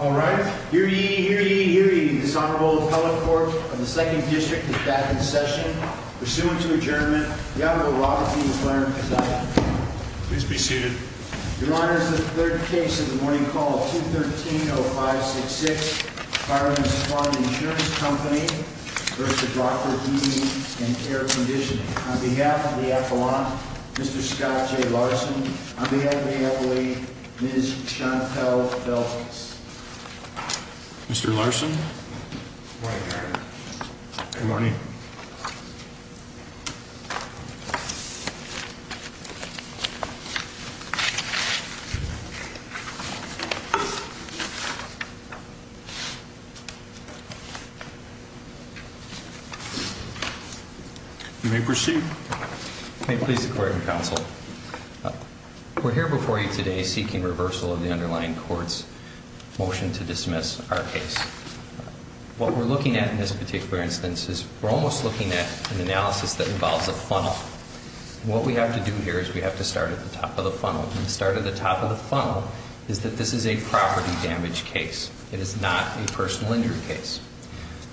All right, here ye, here ye, here ye, this Honorable Appellate Court of the 2nd District is back in session. Pursuant to adjournment, the Honorable Robert P. McLaren is out. Please be seated. Your Honor, this is the third case in the morning call of 213-0566, Fireman's Farm Insurance Company v. Rockford Heating & Care Conditioning. On behalf of the appellant, Mr. Scott J. Larson. On behalf of the appellee, Ms. Chantelle Delcas. Mr. Larson. Good morning, Your Honor. Good morning. Good morning. You may proceed. May it please the Court and Counsel. We're here before you today seeking reversal of the underlying court's motion to dismiss our case. What we're looking at in this particular instance is we're almost looking at an analysis that involves a funnel. What we have to do here is we have to start at the top of the funnel. And the start at the top of the funnel is that this is a property damage case. It is not a personal injury case.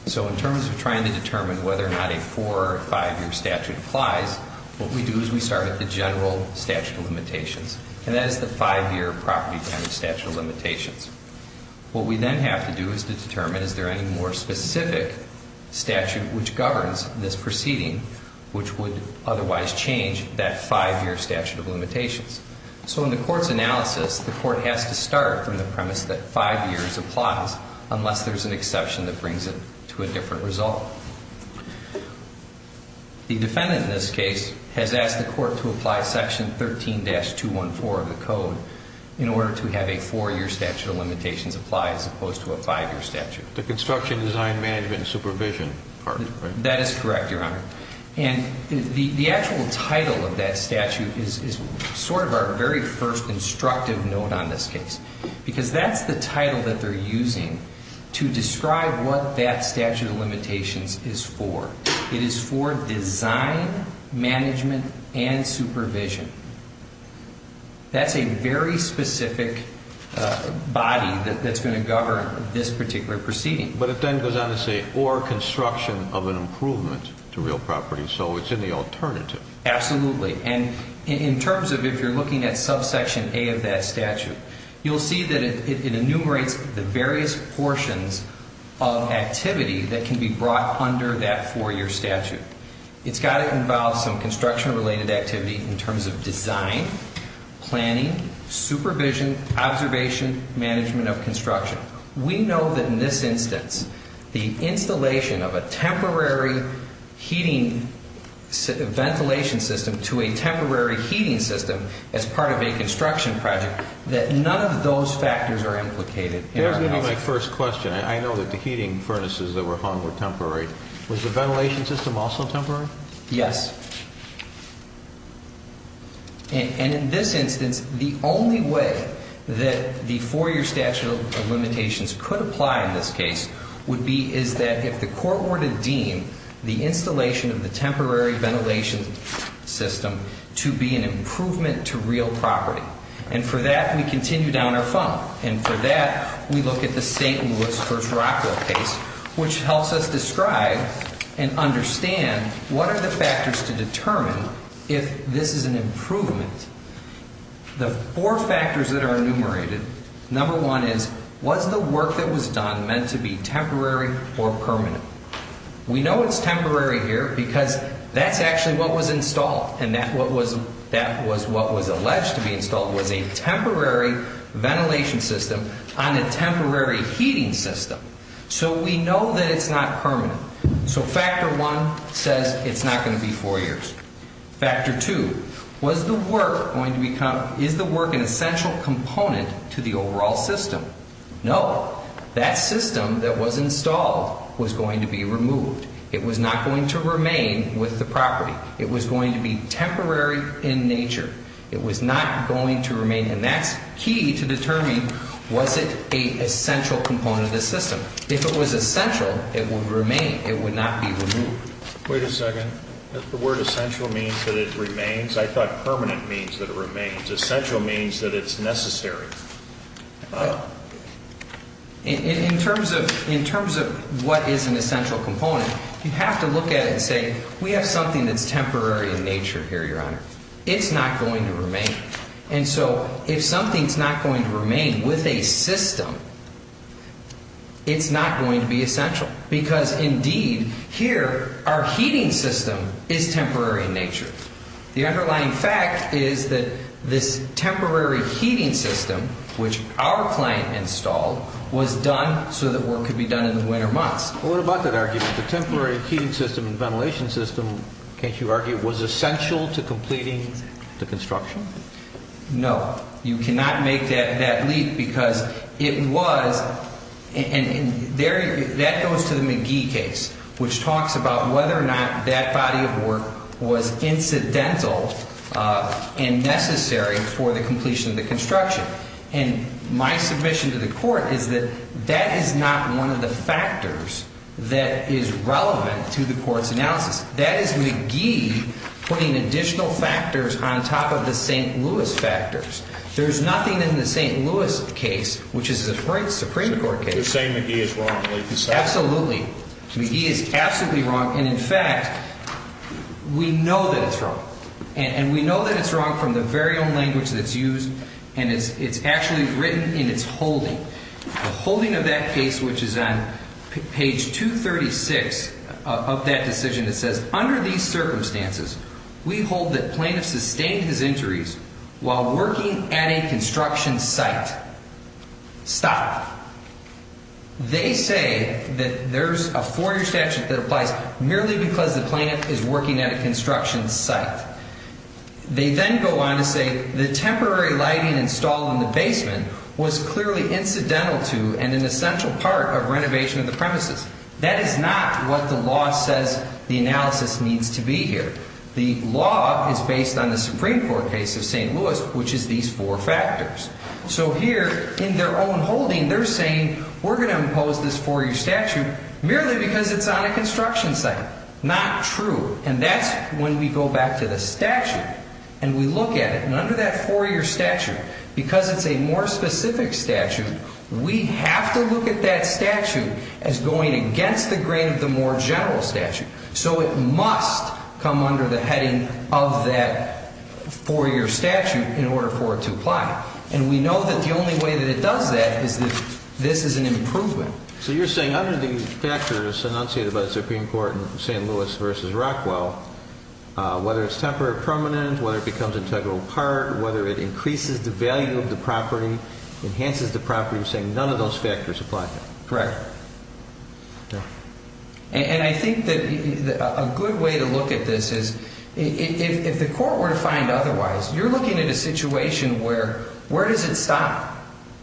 So in terms of trying to determine whether or not a four- or five-year statute applies, what we do is we start at the general statute of limitations. And that is the five-year property damage statute of limitations. What we then have to do is to determine is there any more specific statute which governs this proceeding, which would otherwise change that five-year statute of limitations. So in the Court's analysis, the Court has to start from the premise that five years applies, unless there's an exception that brings it to a different result. The defendant in this case has asked the Court to apply Section 13-214 of the Code in order to have a four-year statute of limitations apply as opposed to a five-year statute. The construction, design, management, and supervision part, right? That is correct, Your Honor. And the actual title of that statute is sort of our very first instructive note on this case because that's the title that they're using to describe what that statute of limitations is for. It is for design, management, and supervision. That's a very specific body that's going to govern this particular proceeding. But it then goes on to say, or construction of an improvement to real property. So it's in the alternative. Absolutely. And in terms of if you're looking at subsection A of that statute, you'll see that it enumerates the various portions of activity that can be brought under that four-year statute. It's got to involve some construction-related activity in terms of design, planning, supervision, observation, management of construction. We know that in this instance, the installation of a temporary heating ventilation system to a temporary heating system as part of a construction project, that none of those factors are implicated. Here's maybe my first question. I know that the heating furnaces that were hung were temporary. Was the ventilation system also temporary? Yes. And in this instance, the only way that the four-year statute of limitations could apply in this case would be, is that if the court were to deem the installation of the temporary ventilation system to be an improvement to real property. And for that, we continue down our funnel. And for that, we look at the St. Louis First Rockwell case, which helps us describe and understand what are the factors to determine if this is an improvement. The four factors that are enumerated, number one is, was the work that was done meant to be temporary or permanent? We know it's temporary here because that's actually what was installed, and that was what was alleged to be installed was a temporary ventilation system on a temporary heating system. So we know that it's not permanent. So factor one says it's not going to be four years. Factor two, is the work an essential component to the overall system? No. That system that was installed was going to be removed. It was not going to remain with the property. It was going to be temporary in nature. It was not going to remain, and that's key to determining was it an essential component of the system. If it was essential, it would remain. It would not be removed. Wait a second. Does the word essential mean that it remains? I thought permanent means that it remains. Essential means that it's necessary. Well, in terms of what is an essential component, you have to look at it and say we have something that's temporary in nature here, Your Honor. It's not going to remain. And so if something's not going to remain with a system, it's not going to be essential because, indeed, here our heating system is temporary in nature. The underlying fact is that this temporary heating system, which our client installed, was done so that work could be done in the winter months. Well, what about that argument? The temporary heating system and ventilation system, can't you argue, was essential to completing the construction? No. You cannot make that leap because it was, and that goes to the McGee case, which talks about whether or not that body of work was incidental and necessary for the completion of the construction. And my submission to the court is that that is not one of the factors that is relevant to the court's analysis. That is McGee putting additional factors on top of the St. Louis factors. There's nothing in the St. Louis case, which is the Supreme Court case. You're saying McGee is wrong. Absolutely. McGee is absolutely wrong. And, in fact, we know that it's wrong. And we know that it's wrong from the very own language that's used. And it's actually written in its holding. The holding of that case, which is on page 236 of that decision, it says, under these circumstances, we hold that plaintiff sustained his injuries while working at a construction site. Stop. They say that there's a four-year statute that applies merely because the plaintiff is working at a construction site. They then go on to say the temporary lighting installed in the basement was clearly incidental to and an essential part of renovation of the premises. That is not what the law says the analysis needs to be here. The law is based on the Supreme Court case of St. Louis, which is these four factors. So here, in their own holding, they're saying we're going to impose this four-year statute merely because it's on a construction site. Not true. And that's when we go back to the statute and we look at it. And under that four-year statute, because it's a more specific statute, we have to look at that statute as going against the grain of the more general statute. So it must come under the heading of that four-year statute in order for it to apply. And we know that the only way that it does that is that this is an improvement. So you're saying under these factors enunciated by the Supreme Court in St. Louis v. Rockwell, whether it's temporary or permanent, whether it becomes integral part, whether it increases the value of the property, enhances the property, you're saying none of those factors apply? Correct. And I think that a good way to look at this is if the court were to find otherwise, you're looking at a situation where where does it stop?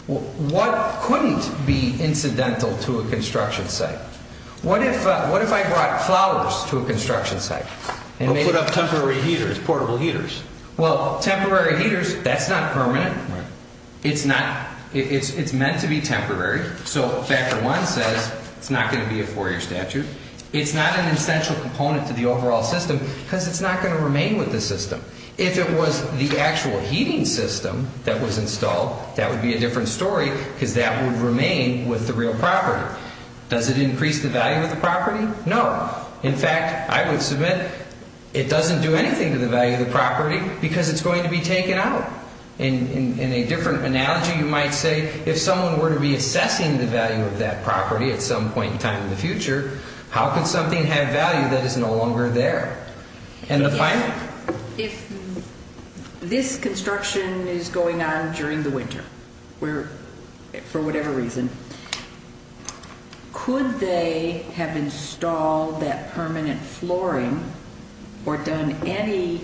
What couldn't be incidental to a construction site? What if I brought flowers to a construction site? Or put up temporary heaters, portable heaters. Well, temporary heaters, that's not permanent. It's not. It's meant to be temporary. So factor one says it's not going to be a four-year statute. It's not an essential component to the overall system because it's not going to remain with the system. If it was the actual heating system that was installed, that would be a different story because that would remain with the real property. Does it increase the value of the property? No. In fact, I would submit it doesn't do anything to the value of the property because it's going to be taken out. In a different analogy, you might say if someone were to be assessing the value of that property at some point in time in the future, how could something have value that is no longer there? And the final? If this construction is going on during the winter for whatever reason, could they have installed that permanent flooring or done any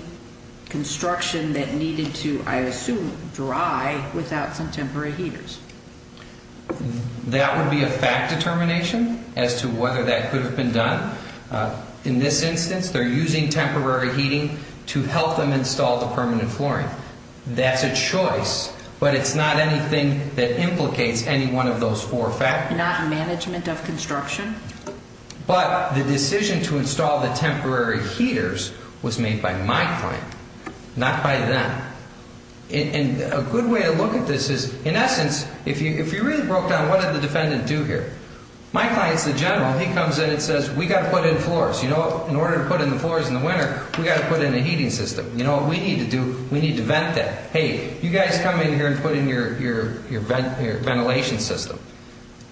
construction that needed to, I assume, dry without some temporary heaters? That would be a fact determination as to whether that could have been done. In this instance, they're using temporary heating to help them install the permanent flooring. That's a choice, but it's not anything that implicates any one of those four factors. Not management of construction? But the decision to install the temporary heaters was made by my client, not by them. And a good way to look at this is, in essence, if you really broke down what did the defendant do here? My client's the general. He comes in and says, we've got to put in floors. You know, in order to put in the floors in the winter, we've got to put in a heating system. You know what we need to do? We need to vent that. Hey, you guys come in here and put in your ventilation system.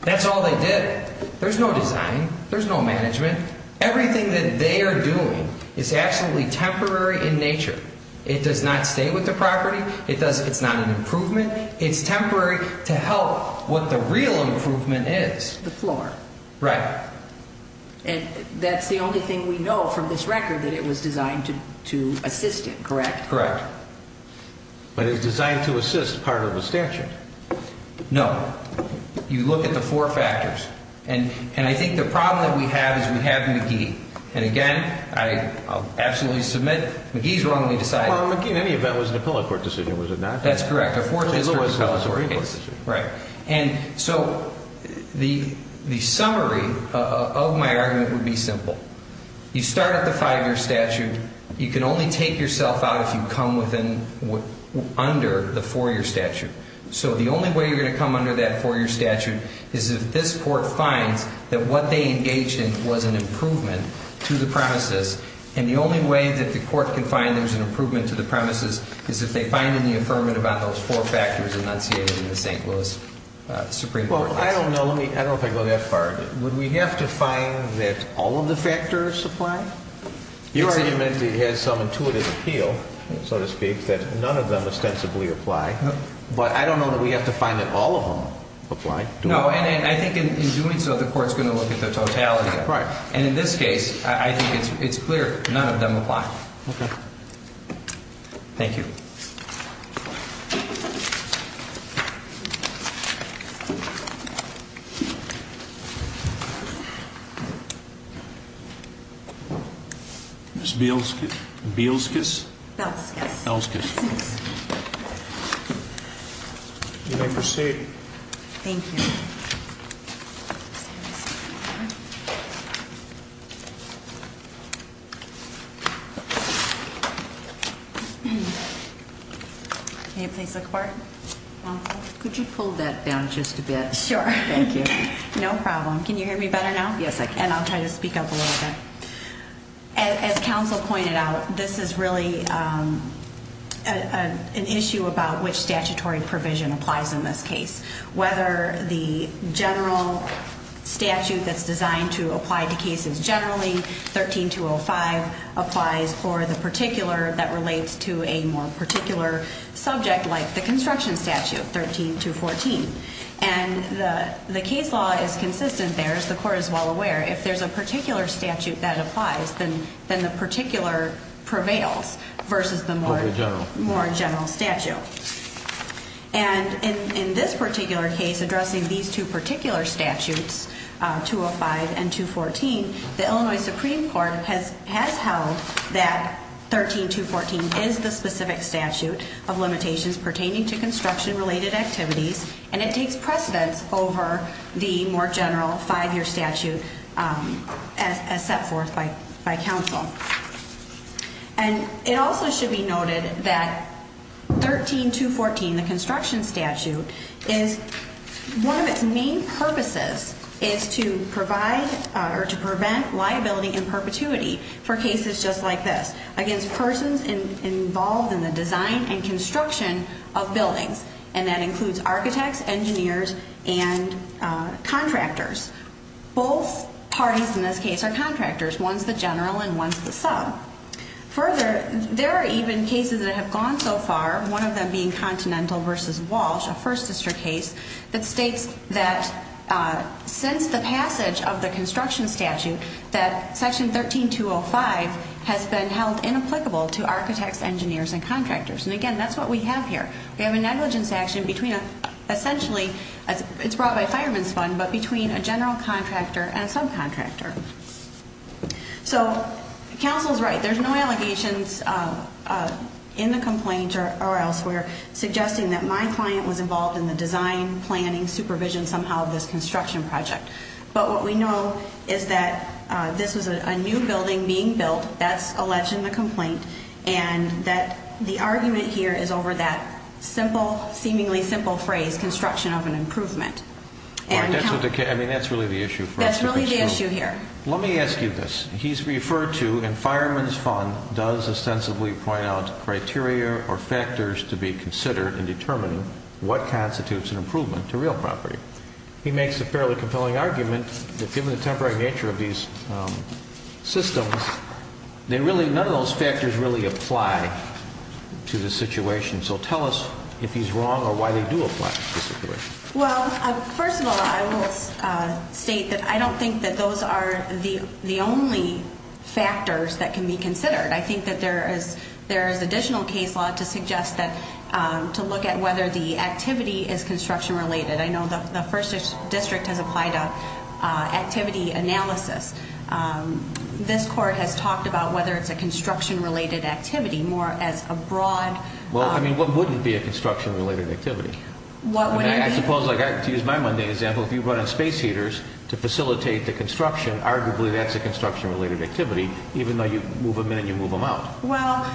That's all they did. There's no design. There's no management. Everything that they are doing is absolutely temporary in nature. It does not stay with the property. It's not an improvement. It's temporary to help what the real improvement is. The floor. Right. And that's the only thing we know from this record, that it was designed to assist it, correct? Correct. But it was designed to assist part of the statute. No. You look at the four factors. And I think the problem that we have is we have McGee. And, again, I absolutely submit McGee's wrong when he decided it. Well, McGee, in any event, was it a public court decision, was it not? That's correct. A four-year statute is a public court decision. Right. And so the summary of my argument would be simple. You start at the five-year statute. You can only take yourself out if you come under the four-year statute. So the only way you're going to come under that four-year statute is if this court finds that what they engaged in was an improvement to the premises. And the only way that the court can find there's an improvement to the premises is if they find in the affirmative on those four factors enunciated in the St. Louis Supreme Court case. Well, I don't know. I don't think I go that far. Would we have to find that all of the factors apply? Your argument has some intuitive appeal, so to speak, that none of them ostensibly apply. But I don't know that we have to find that all of them apply. No. And I think in doing so, the court's going to look at the totality of it. Right. And in this case, I think it's clear none of them apply. Okay. Thank you. Ms. Bielskis? Belskis. Belskis. You may proceed. Thank you. Thank you. Can you please look forward? Could you pull that down just a bit? Sure. Thank you. No problem. Can you hear me better now? Yes, I can. And I'll try to speak up a little bit. As counsel pointed out, this is really an issue about which statutory provision applies in this case. Whether the general statute that's designed to apply to cases generally, 13-205, applies for the particular that relates to a more particular subject like the construction statute, 13-214. And the case law is consistent there, as the court is well aware. If there's a particular statute that applies, then the particular prevails versus the more general statute. And in this particular case, addressing these two particular statutes, 205 and 214, the Illinois Supreme Court has held that 13-214 is the specific statute of limitations pertaining to construction-related activities, and it takes precedence over the more general five-year statute as set forth by counsel. And it also should be noted that 13-214, the construction statute, is one of its main purposes is to provide or to prevent liability and perpetuity for cases just like this, against persons involved in the design and construction of buildings, and that includes architects, engineers, and contractors. Both parties in this case are contractors. One's the general and one's the sub. Further, there are even cases that have gone so far, one of them being Continental v. Walsh, a First District case, that states that since the passage of the construction statute, that section 13-205 has been held inapplicable to architects, engineers, and contractors. And again, that's what we have here. We have a negligence action between, essentially, it's brought by Fireman's Fund, but between a general contractor and a subcontractor. So, counsel's right, there's no allegations in the complaint or elsewhere, suggesting that my client was involved in the design, planning, supervision, somehow, of this construction project. But what we know is that this was a new building being built, that's alleged in the complaint, and that the argument here is over that simple, seemingly simple phrase, construction of an improvement. That's really the issue for us. That's really the issue here. Let me ask you this. He's referred to, and Fireman's Fund does ostensibly point out, criteria or factors to be considered in determining what constitutes an improvement to real property. He makes a fairly compelling argument that given the temporary nature of these systems, none of those factors really apply to the situation. So tell us if he's wrong or why they do apply to the situation. Well, first of all, I will state that I don't think that those are the only factors that can be considered. I think that there is additional case law to suggest that, to look at whether the activity is construction related. I know the first district has applied an activity analysis. This court has talked about whether it's a construction related activity, more as a broad. Well, I mean, what wouldn't be a construction related activity? I suppose, to use my Monday example, if you brought in space heaters to facilitate the construction, arguably that's a construction related activity, even though you move them in and you move them out. Well,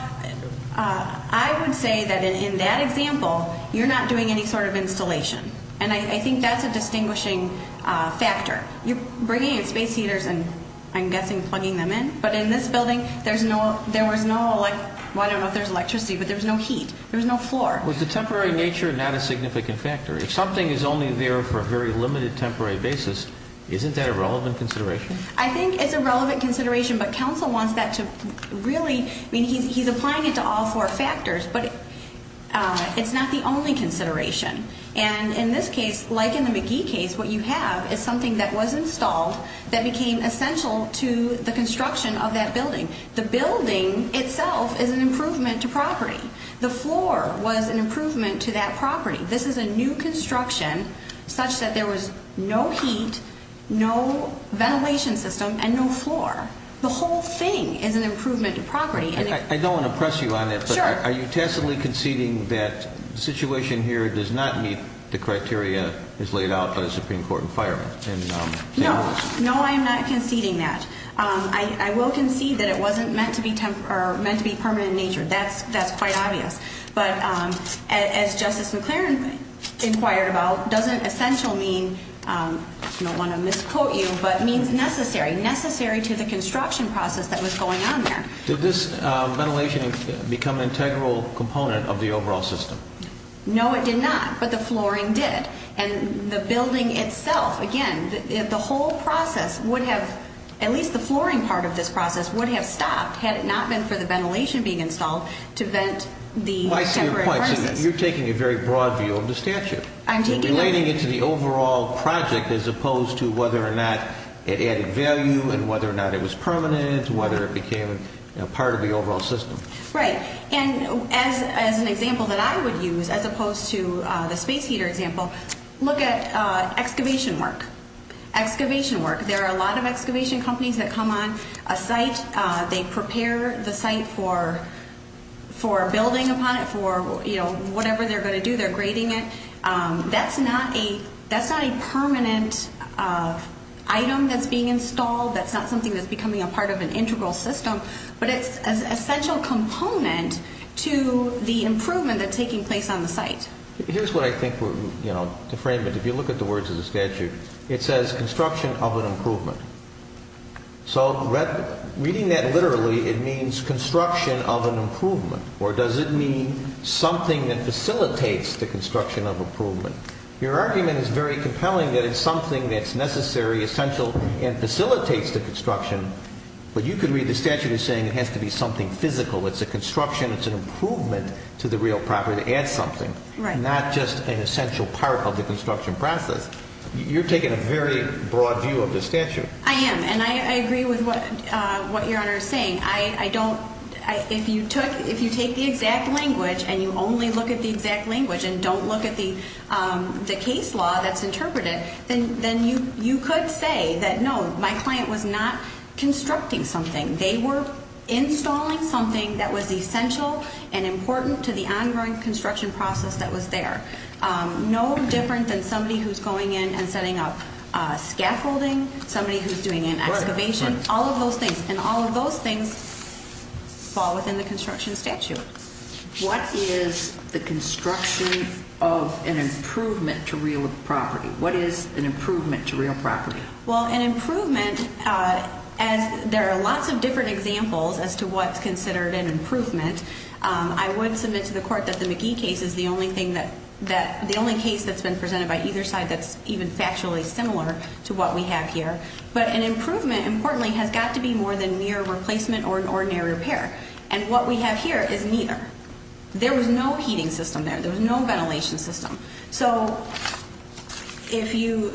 I would say that in that example, you're not doing any sort of installation. And I think that's a distinguishing factor. You're bringing in space heaters and, I'm guessing, plugging them in. But in this building, there was no, well, I don't know if there's electricity, but there was no heat. There was no floor. Was the temporary nature not a significant factor? If something is only there for a very limited temporary basis, isn't that a relevant consideration? I think it's a relevant consideration, but counsel wants that to really, I mean, he's applying it to all four factors, but it's not the only consideration. And in this case, like in the McGee case, what you have is something that was installed that became essential to the construction of that building. The building itself is an improvement to property. The floor was an improvement to that property. This is a new construction such that there was no heat, no ventilation system, and no floor. The whole thing is an improvement to property. I don't want to press you on it. Sure. Are you tacitly conceding that the situation here does not meet the criteria as laid out by the Supreme Court in firing? No. No, I am not conceding that. I will concede that it wasn't meant to be permanent in nature. That's quite obvious. But as Justice McClaren inquired about, doesn't essential mean, I don't want to misquote you, but means necessary, necessary to the construction process that was going on there. Did this ventilation become an integral component of the overall system? No, it did not. But the flooring did. And the building itself, again, the whole process would have, at least the flooring part of this process, would have stopped had it not been for the ventilation being installed to vent the separate furnaces. I see your point. So you're taking a very broad view of the statute. I'm taking it. You're relating it to the overall project as opposed to whether or not it added value and whether or not it was permanent, whether it became part of the overall system. Right. And as an example that I would use as opposed to the space heater example, look at excavation work. Excavation work. There are a lot of excavation companies that come on a site. They prepare the site for building upon it, for whatever they're going to do. They're grading it. That's not a permanent item that's being installed. That's not something that's becoming a part of an integral system. But it's an essential component to the improvement that's taking place on the site. Here's what I think to frame it. If you look at the words of the statute, it says construction of an improvement. So reading that literally, it means construction of an improvement. Or does it mean something that facilitates the construction of improvement? Your argument is very compelling that it's something that's necessary, essential, and facilitates the construction. But you could read the statute as saying it has to be something physical. It's a construction. It's an improvement to the real property. Add something. Right. Not just an essential part of the construction process. You're taking a very broad view of the statute. I am. And I agree with what Your Honor is saying. If you take the exact language and you only look at the exact language and don't look at the case law that's interpreted, then you could say that no, my client was not constructing something. They were installing something that was essential and important to the ongoing construction process that was there. No different than somebody who's going in and setting up scaffolding, somebody who's doing an excavation, all of those things. And all of those things fall within the construction statute. What is the construction of an improvement to real property? What is an improvement to real property? Well, an improvement, there are lots of different examples as to what's considered an improvement. I would submit to the court that the McGee case is the only case that's been presented by either side that's even factually similar to what we have here. But an improvement, importantly, has got to be more than mere replacement or an ordinary repair. And what we have here is neither. There was no heating system there. There was no ventilation system. So if you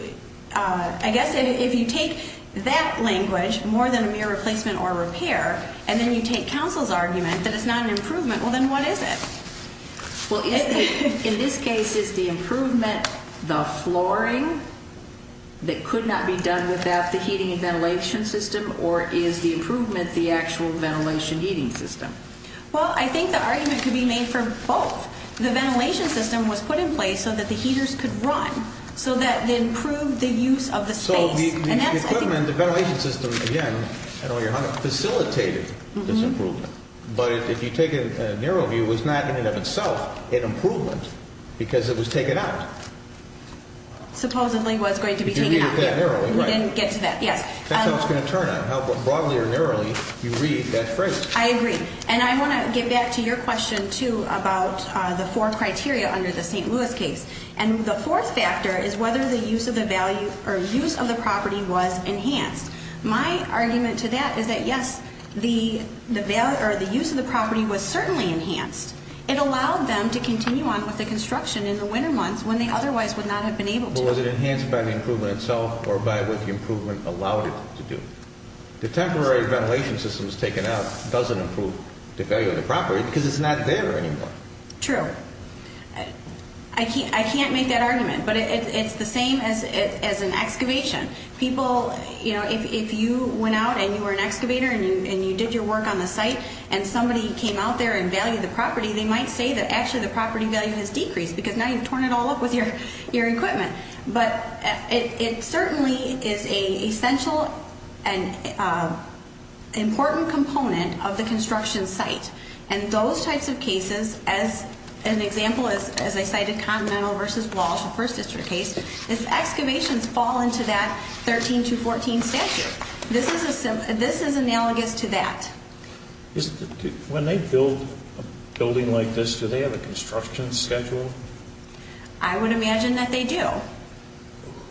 take that language, more than a mere replacement or repair, and then you take counsel's argument that it's not an improvement, well, then what is it? Well, in this case, is the improvement the flooring that could not be done without the heating and ventilation system, or is the improvement the actual ventilation heating system? Well, I think the argument could be made for both. The ventilation system was put in place so that the heaters could run, so that it improved the use of the space. So the equipment, the ventilation system, again, I don't know how to, facilitated this improvement. But if you take a narrow view, it was not in and of itself an improvement because it was taken out. Supposedly was going to be taken out. You didn't get to that. That's how it's going to turn out, how broadly or narrowly you read that phrase. I agree. And I want to get back to your question, too, about the four criteria under the St. Louis case. And the fourth factor is whether the use of the property was enhanced. My argument to that is that, yes, the use of the property was certainly enhanced. It allowed them to continue on with the construction in the winter months when they otherwise would not have been able to. But was it enhanced by the improvement itself or by what the improvement allowed it to do? The temporary ventilation system that was taken out doesn't improve the value of the property because it's not there anymore. True. I can't make that argument. But it's the same as an excavation. People, you know, if you went out and you were an excavator and you did your work on the site and somebody came out there and valued the property, they might say that actually the property value has decreased because now you've torn it all up with your equipment. But it certainly is an essential and important component of the construction site. And those types of cases, as an example, as I cited, Continental versus Walsh, the First District case, the excavations fall into that 13 to 14 statute. This is analogous to that. When they build a building like this, do they have a construction schedule? I would imagine that they do.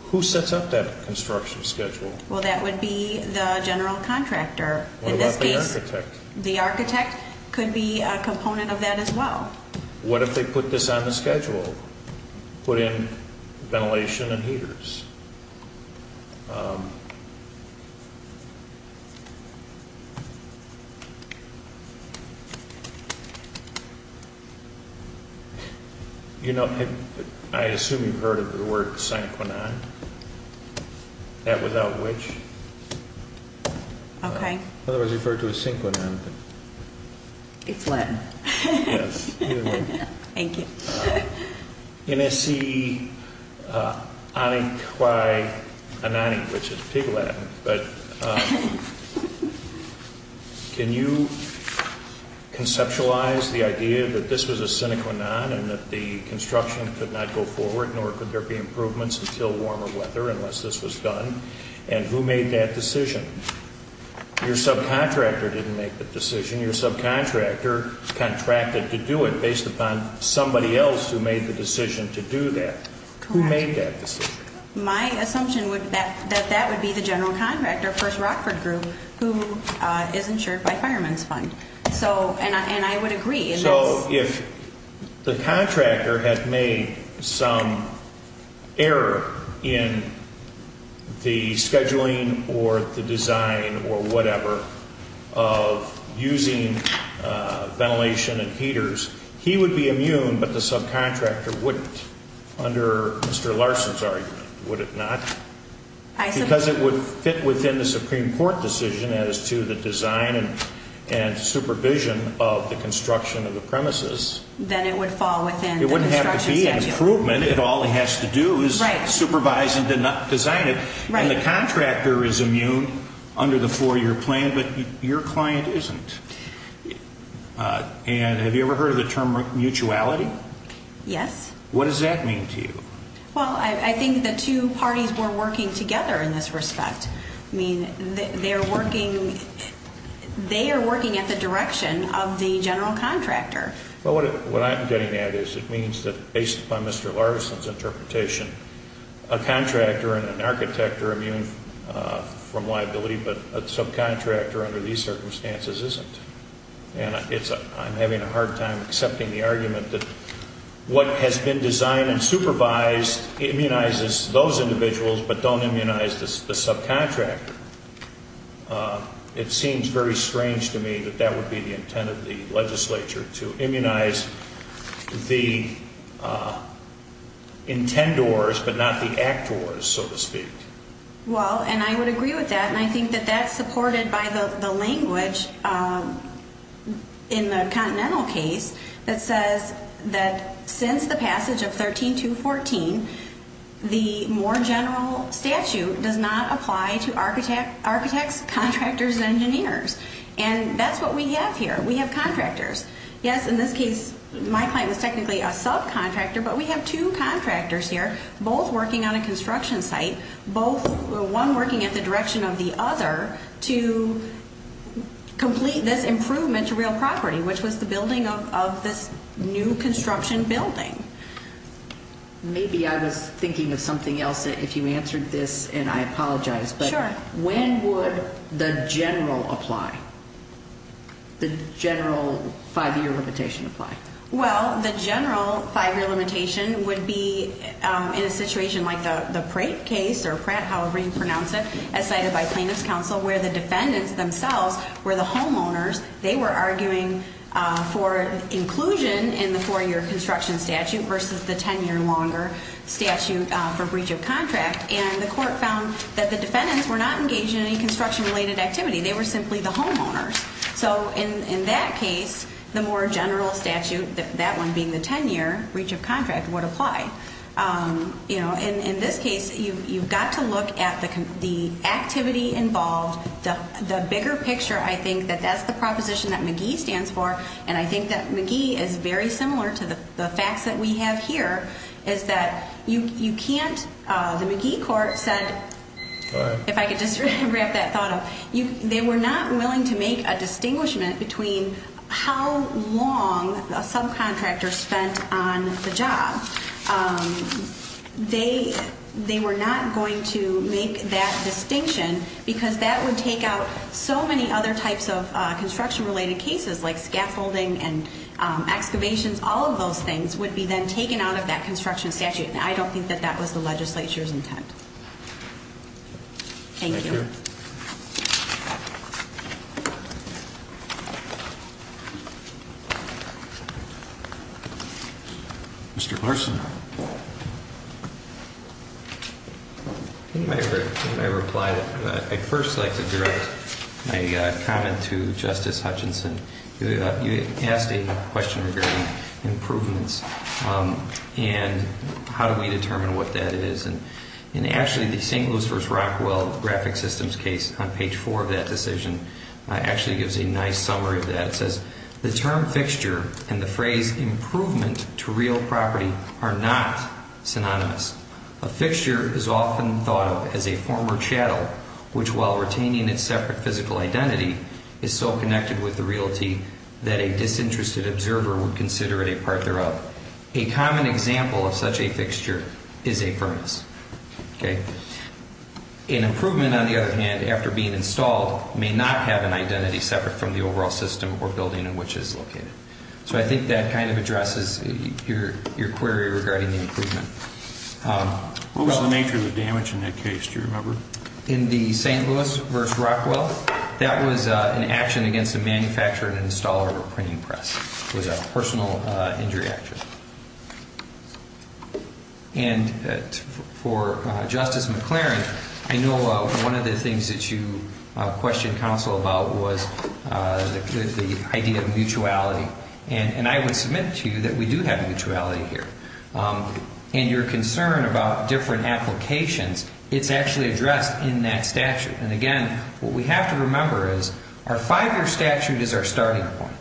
Who sets up that construction schedule? Well, that would be the general contractor. What about the architect? The architect could be a component of that as well. What if they put this on the schedule, put in ventilation and heaters? You know, I assume you've heard of the word synchronon, that without which? Okay. Otherwise referred to as synchronon. It's Latin. Yes. Either way. Thank you. NSC Aniqui Anani, which is Pig Latin. But can you conceptualize the idea that this was a synchronon and that the construction could not go forward nor could there be improvements until warmer weather unless this was done? And who made that decision? Your subcontractor didn't make the decision. Your subcontractor contracted to do it based upon somebody else who made the decision to do that. Correct. Who made that decision? My assumption would be that that would be the general contractor, First Rockford Group, who is insured by Fireman's Fund. And I would agree. So if the contractor had made some error in the scheduling or the design or whatever of using ventilation and heaters, he would be immune, but the subcontractor wouldn't under Mr. Larson's argument, would it not? Because it would fit within the Supreme Court decision as to the design and supervision of the construction of the premises. Then it would fall within the construction statute. It wouldn't have to be an improvement. All it has to do is supervise and design it. And the contractor is immune under the four-year plan, but your client isn't. And have you ever heard of the term mutuality? Yes. What does that mean to you? Well, I think the two parties were working together in this respect. I mean, they are working at the direction of the general contractor. Well, what I'm getting at is it means that based upon Mr. Larson's interpretation, a contractor and an architect are immune from liability, but a subcontractor under these circumstances isn't. And I'm having a hard time accepting the argument that what has been designed and supervised immunizes those individuals but don't immunize the subcontractor. It seems very strange to me that that would be the intent of the legislature, to immunize the intendors but not the actors, so to speak. Well, and I would agree with that, and I think that that's supported by the language in the Continental case that says that since the passage of 13214, the more general statute does not apply to architects, contractors, and engineers. And that's what we have here. We have contractors. Yes, in this case, my client was technically a subcontractor, but we have two contractors here, both working on a construction site, one working at the direction of the other to complete this improvement to real property, which was the building of this new construction building. Maybe I was thinking of something else if you answered this, and I apologize. Sure. But when would the general apply, the general five-year limitation apply? Well, the general five-year limitation would be in a situation like the Pratt case, or Pratt, however you pronounce it, as cited by plaintiff's counsel where the defendants themselves were the homeowners. They were arguing for inclusion in the four-year construction statute versus the ten-year longer statute for breach of contract, and the court found that the defendants were not engaged in any construction-related activity. They were simply the homeowners. So in that case, the more general statute, that one being the ten-year breach of contract, would apply. In this case, you've got to look at the activity involved. The bigger picture, I think, that that's the proposition that McGee stands for, and I think that McGee is very similar to the facts that we have here, is that you can't, the McGee court said, if I could just wrap that thought up, they were not willing to make a distinguishment between how long a subcontractor spent on the job. They were not going to make that distinction because that would take out so many other types of construction-related cases like scaffolding and excavations, all of those things would be then taken out of that construction statute, and I don't think that that was the legislature's intent. Thank you. Mr. Larson. In my reply, I'd first like to direct my comment to Justice Hutchinson. You asked a question regarding improvements, and how do we determine what that is, and actually the St. Lucifer's Rockwell graphic systems case on page four of that decision actually gives a nice summary of that. It says, the term fixture and the phrase improvement to real property are not synonymous. A fixture is often thought of as a former chattel, which while retaining its separate physical identity, is so connected with the realty that a disinterested observer would consider it a part thereof. A common example of such a fixture is a firmness. An improvement, on the other hand, after being installed, may not have an identity separate from the overall system or building in which it is located. So I think that kind of addresses your query regarding the improvement. What was the nature of the damage in that case, do you remember? In the St. Louis versus Rockwell, that was an action against a manufacturer and installer of a printing press. It was a personal injury action. And for Justice McLaren, I know one of the things that you questioned counsel about was the idea of mutuality. And I would submit to you that we do have mutuality here. And your concern about different applications, it's actually addressed in that statute. And again, what we have to remember is our five-year statute is our starting point.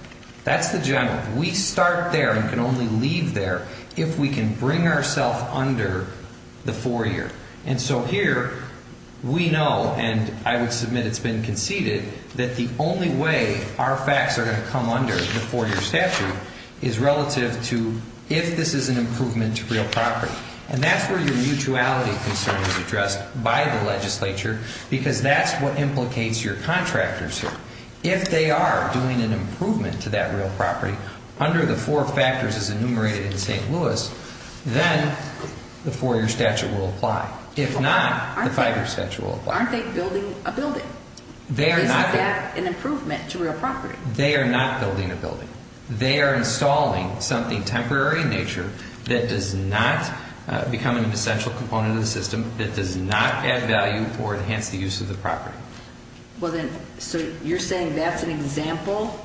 That's the general. We start there and can only leave there if we can bring ourselves under the four-year. And so here, we know, and I would submit it's been conceded, that the only way our facts are going to come under the four-year statute is relative to if this is an improvement to real property. And that's where your mutuality concern is addressed by the legislature because that's what implicates your contractors here. If they are doing an improvement to that real property under the four factors as enumerated in St. Louis, then the four-year statute will apply. If not, the five-year statute will apply. Aren't they building a building? Isn't that an improvement to real property? They are not building a building. They are installing something temporary in nature that does not become an essential component of the system, that does not add value or enhance the use of the property. So you're saying that's an example?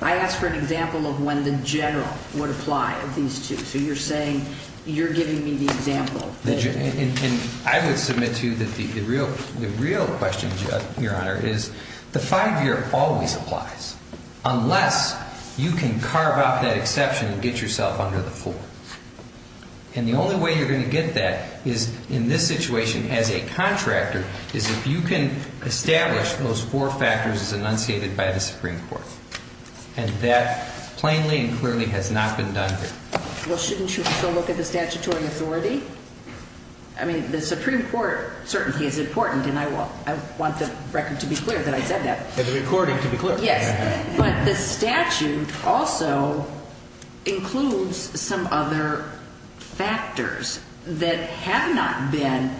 I asked for an example of when the general would apply of these two. So you're saying you're giving me the example. And I would submit to you that the real question, Your Honor, is the five-year always applies unless you can carve out that exception and get yourself under the four. And the only way you're going to get that is in this situation as a contractor is if you can establish those four factors as enunciated by the Supreme Court. And that plainly and clearly has not been done here. Well, shouldn't you still look at the statutory authority? I mean, the Supreme Court certainly is important, and I want the record to be clear that I said that. And the recording to be clear. Yes. But the statute also includes some other factors that have not been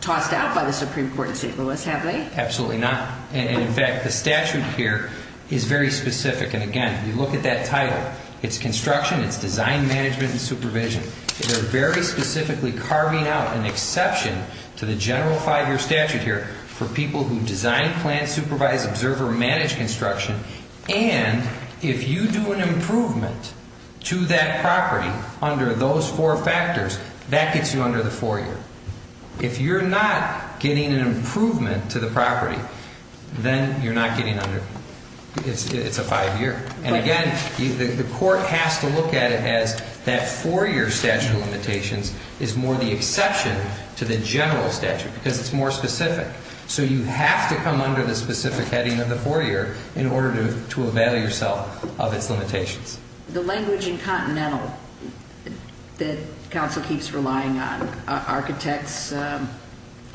tossed out by the Supreme Court in St. Louis, have they? Absolutely not. And, in fact, the statute here is very specific. And, again, if you look at that title, it's construction, it's design, management, and supervision. They're very specifically carving out an exception to the general five-year statute here for people who design, plan, supervise, observe, or manage construction. And if you do an improvement to that property under those four factors, that gets you under the four-year. If you're not getting an improvement to the property, then you're not getting under. It's a five-year. And, again, the court has to look at it as that four-year statute of limitations is more the exception to the general statute because it's more specific. So you have to come under the specific heading of the four-year in order to avail yourself of its limitations. The language in Continental that counsel keeps relying on, architects,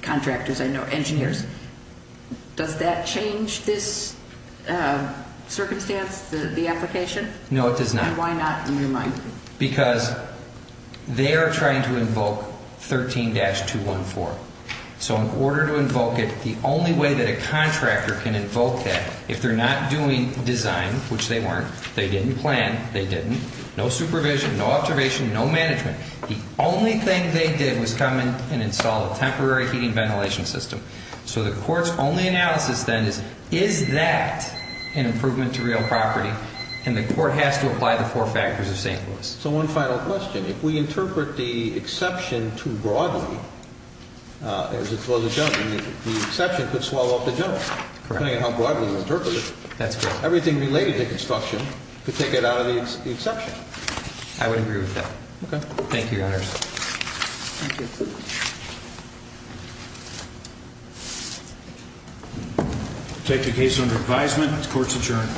contractors, I know, engineers, does that change this circumstance, the application? No, it does not. And why not in your mind? Because they are trying to invoke 13-214. So in order to invoke it, the only way that a contractor can invoke that, if they're not doing design, which they weren't, they didn't plan, they didn't, no supervision, no observation, no management, the only thing they did was come in and install a temporary heating ventilation system. So the court's only analysis then is, is that an improvement to real property? And the court has to apply the four factors of St. Louis. So one final question. If we interpret the exception too broadly, as opposed to general, the exception could swallow up the general. Correct. Depending on how broadly you interpret it. That's correct. Everything related to construction could take it out of the exception. I would agree with that. Okay. Thank you, Your Honors. Thank you. We'll take the case under advisement. The court's adjourned.